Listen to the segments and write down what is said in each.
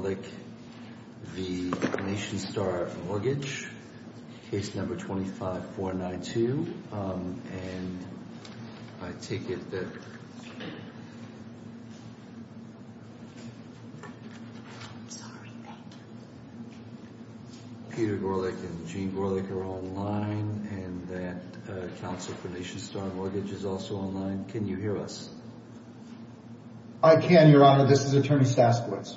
Peter Gorlick v. Nationstar Mortgage, case number 25492, and I take it that Peter Gorlick and Jean Gorlick are online, and that counsel for Nationstar Mortgage is also online. Can you hear us? I can, Your Honor. This is Attorney Staskowitz.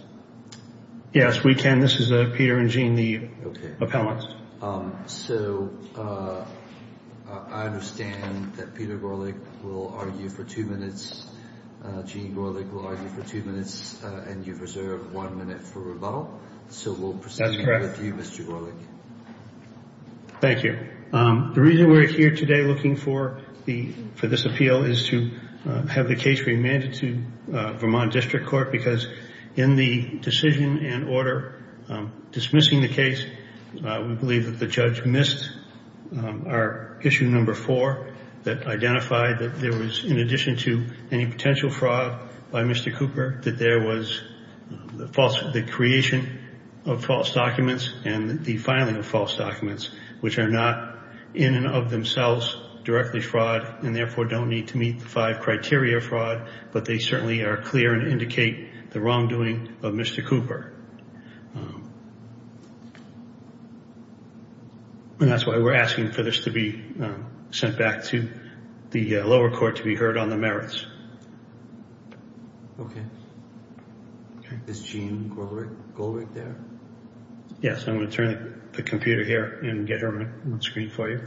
Yes, we can. This is Peter and Jean, the appellants. So I understand that Peter Gorlick will argue for two minutes, Jean Gorlick will argue for two minutes, and you've reserved one minute for rebuttal. That's correct. So we'll proceed with you, Mr. Gorlick. Thank you. The reason we're here today looking for this appeal is to have the case remanded to Vermont District Court, because in the decision and order dismissing the case, we believe that the judge missed our issue number four, that identified that there was, in addition to any potential fraud by Mr. Cooper, that there was the creation of false documents and the filing of false documents, which are not in and of themselves directly fraud and therefore don't need to meet the five criteria fraud, but they certainly are clear and indicate the wrongdoing of Mr. Cooper. And that's why we're asking for this to be sent back to the lower court to be heard on the merits. Okay. Is Jean Gorlick there? Yes, I'm going to turn the computer here and get her on screen for you.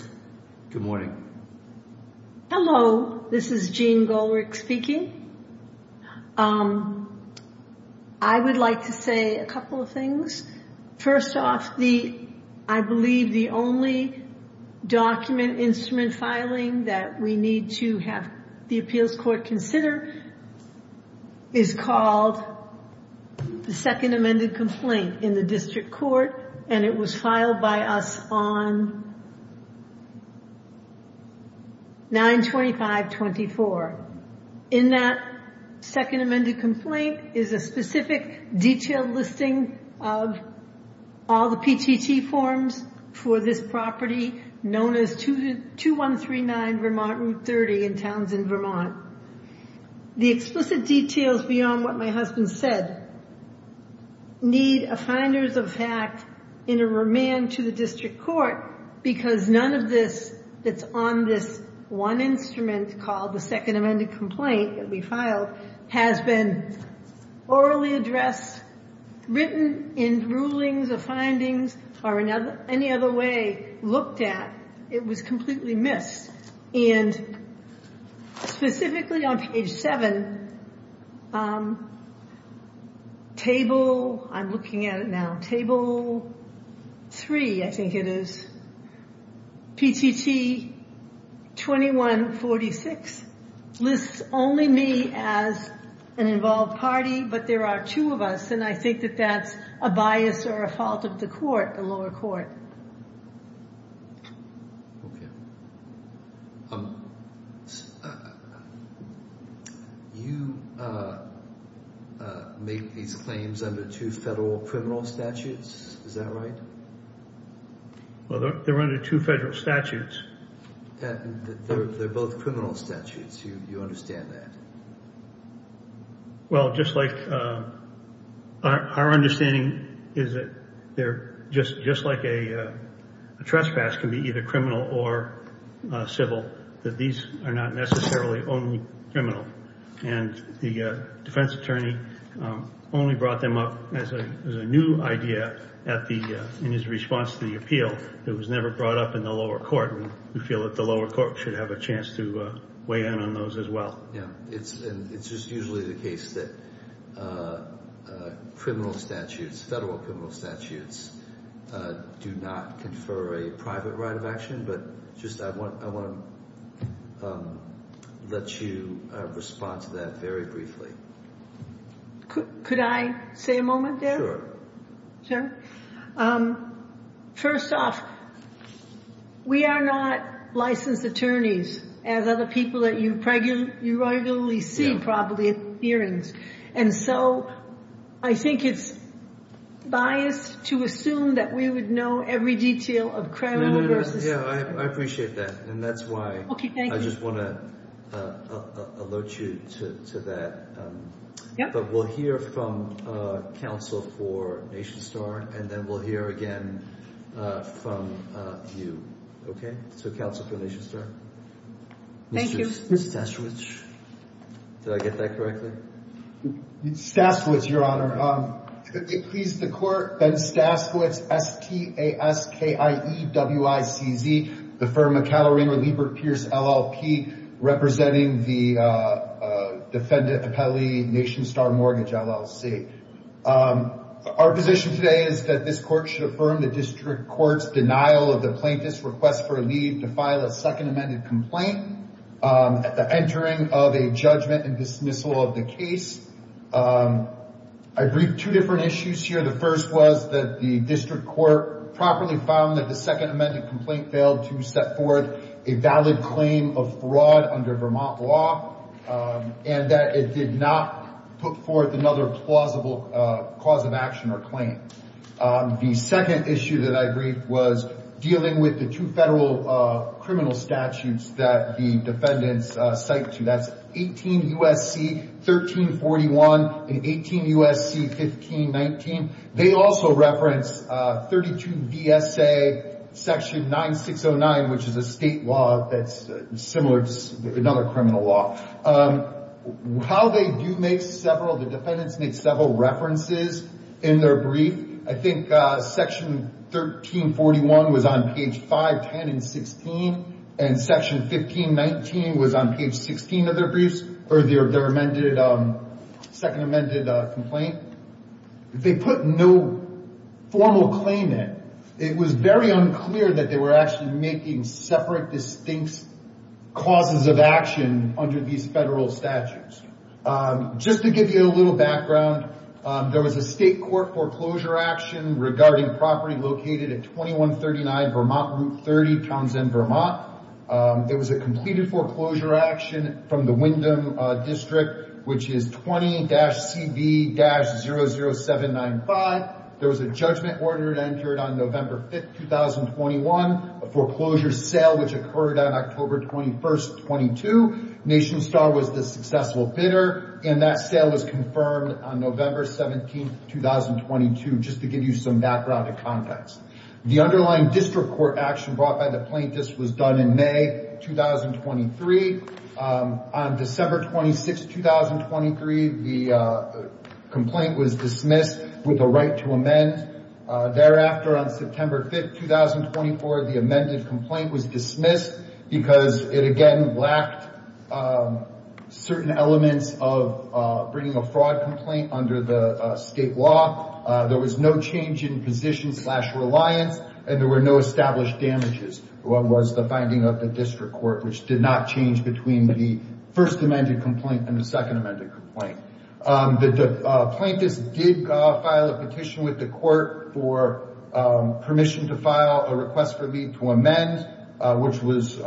Good morning. Hello, this is Jean Gorlick speaking. I would like to say a couple of things. First off, I believe the only document instrument filing that we need to have the appeals court consider is called the second amended complaint in the district court, and it was filed by us on 9-25-24. In that second amended complaint is a specific detailed listing of all the PTT forms for this property known as 2139 Vermont Route 30 in Townsend, Vermont. The explicit details beyond what my husband said need a finders of fact in a remand to the district court, because none of this that's on this one instrument called the second amended complaint that we filed has been orally addressed, written in rulings or findings or in any other way looked at. It was completely missed. And specifically on page 7, table, I'm looking at it now, table 3, I think it is, PTT 2146 lists only me as an involved party, but there are two of us, and I think that that's a bias or a fault of the court, the lower court. You make these claims under two federal criminal statutes, is that right? Well, they're under two federal statutes. They're both criminal statutes, you understand that? Well, just like our understanding is that they're just like a trespass can be either criminal or civil, that these are not necessarily only criminal. And the defense attorney only brought them up as a new idea in his response to the appeal. It was never brought up in the lower court, and we feel that the lower court should have a chance to weigh in on those as well. It's just usually the case that federal criminal statutes do not confer a private right of action, but I want to let you respond to that very briefly. Could I say a moment there? Sure. First off, we are not licensed attorneys, as other people that you regularly see probably in hearings. And so I think it's biased to assume that we would know every detail of criminal versus civil. I appreciate that, and that's why I just want to alert you to that. But we'll hear from counsel for NationStar, and then we'll hear again from you. So counsel for NationStar. Thank you. Mr. Stasiewicz. Did I get that correctly? Stasiewicz, Your Honor. Could it please the court, Ben Stasiewicz, S-T-A-S-K-I-E-W-I-C-Z, the firm McAllory & Liebert Pierce, LLP, representing the defendant appellee NationStar Mortgage, LLC. Our position today is that this court should affirm the district court's denial of the plaintiff's request for leave to file a second amended complaint at the entering of a judgment and dismissal of the case. I briefed two different issues here. The first was that the district court properly found that the second amended complaint failed to set forth a valid claim of fraud under Vermont law, and that it did not put forth another plausible cause of action or claim. The second issue that I briefed was dealing with the two federal criminal statutes that the defendants cite to. That's 18 U.S.C. 1341 and 18 U.S.C. 1519. They also reference 32 V.S.A. section 9609, which is a state law that's similar to another criminal law. How they do make several, the defendants make several references in their brief. I think section 1341 was on page 510 and 16, and section 1519 was on page 16 of their briefs, or their amended, second amended complaint. They put no formal claim in. It was very unclear that they were actually making separate, distinct causes of action under these federal statutes. Just to give you a little background, there was a state court foreclosure action regarding property located at 2139 Vermont Route 30, Townsend, Vermont. There was a completed foreclosure action from the Wyndham District, which is 20-CB-00795. There was a judgment ordered and entered on November 5th, 2021. A foreclosure sale, which occurred on October 21st, 22. NationStar was the successful bidder, and that sale was confirmed on November 17th, 2022. Just to give you some background and context. The underlying district court action brought by the plaintiffs was done in May 2023. On December 26th, 2023, the complaint was dismissed with a right to amend. Thereafter, on September 5th, 2024, the amended complaint was dismissed because it, again, lacked certain elements of bringing a fraud complaint under the state law. There was no change in position slash reliance, and there were no established damages. What was the finding of the district court, which did not change between the first amended complaint and the second amended complaint. The plaintiffs did file a petition with the court for permission to file a request for leave to amend, which was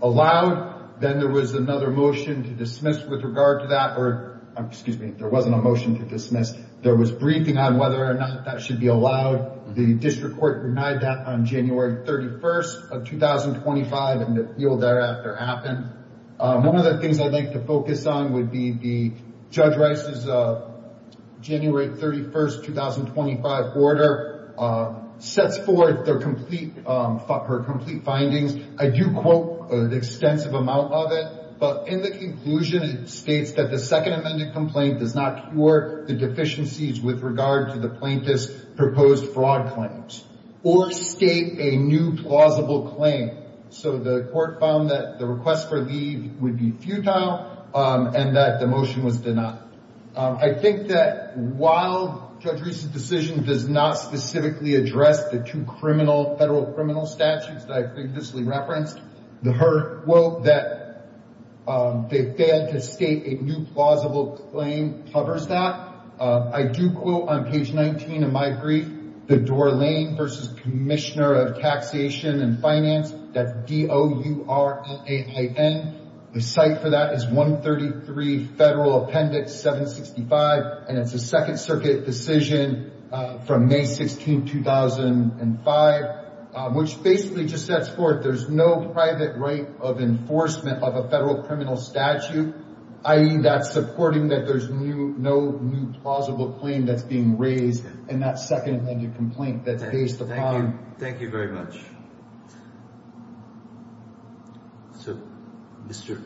allowed. Then there was another motion to dismiss with regard to that, or, excuse me, there wasn't a motion to dismiss. There was briefing on whether or not that should be allowed. The district court denied that on January 31st of 2025, and the appeal thereafter happened. One of the things I'd like to focus on would be Judge Rice's January 31st, 2025 order sets forth her complete findings. I do quote an extensive amount of it, but in the conclusion it states that the second amended complaint does not cure the deficiencies with regard to the plaintiff's proposed fraud claims or state a new plausible claim. So the court found that the request for leave would be futile and that the motion was denied. I think that while Judge Rice's decision does not specifically address the two federal criminal statutes that I previously referenced, her quote that they failed to state a new plausible claim covers that. I do quote on page 19 of my brief, the Dore Lane v. Commissioner of Taxation and Finance, that's D-O-U-R-N-A-I-N. The site for that is 133 Federal Appendix 765, and it's a Second Circuit decision from May 16, 2005, which basically just sets forth that there's no private right of enforcement of a federal criminal statute, i.e. that's supporting that there's no new plausible claim that's being raised in that second amended complaint that's based upon. Thank you very much. So, Mr.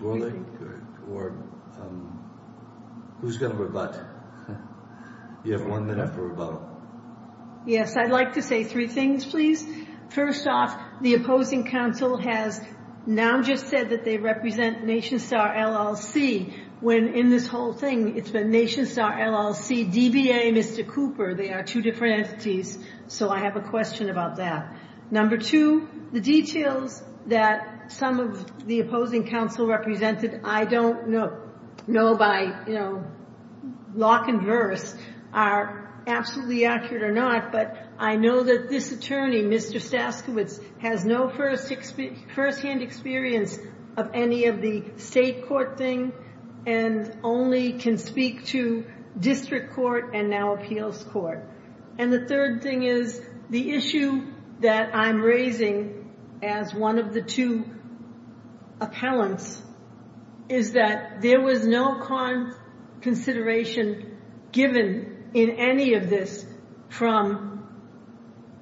Gorlick, who's going to rebut? You have one minute for rebuttal. Yes, I'd like to say three things, please. First off, the opposing counsel has now just said that they represent NationStar LLC, when in this whole thing it's been NationStar LLC, DBA, and Mr. Cooper. They are two different entities, so I have a question about that. Number two, the details that some of the opposing counsel represented, I don't know by, you know, lock and verse, are absolutely accurate or not, but I know that this attorney, Mr. Staskiewicz, has no firsthand experience of any of the state court thing and only can speak to district court and now appeals court. And the third thing is, the issue that I'm raising as one of the two appellants is that there was no consideration given in any of this from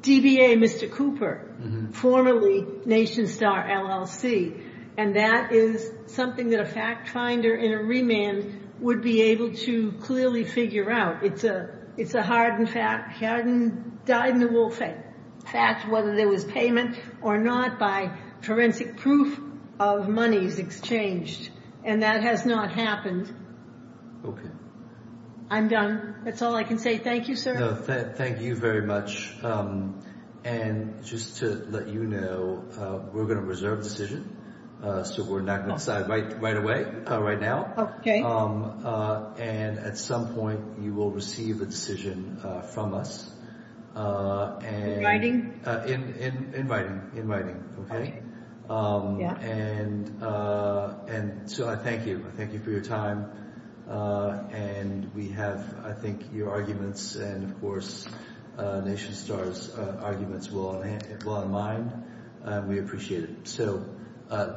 DBA, Mr. Cooper, formerly NationStar LLC, and that is something that a fact finder in a remand would be able to clearly figure out. It's a hardened fact, whether there was payment or not by forensic proof of monies exchanged, and that has not happened. I'm done. That's all I can say. Thank you, sir. Thank you very much. And just to let you know, we're going to reserve the decision, so we're not going to decide right away, right now. Okay. And at some point, you will receive a decision from us. In writing? In writing. In writing. Okay? Yeah. And so I thank you. I thank you for your time. And we have, I think, your arguments and, of course, NationStar's arguments well in mind, and we appreciate it.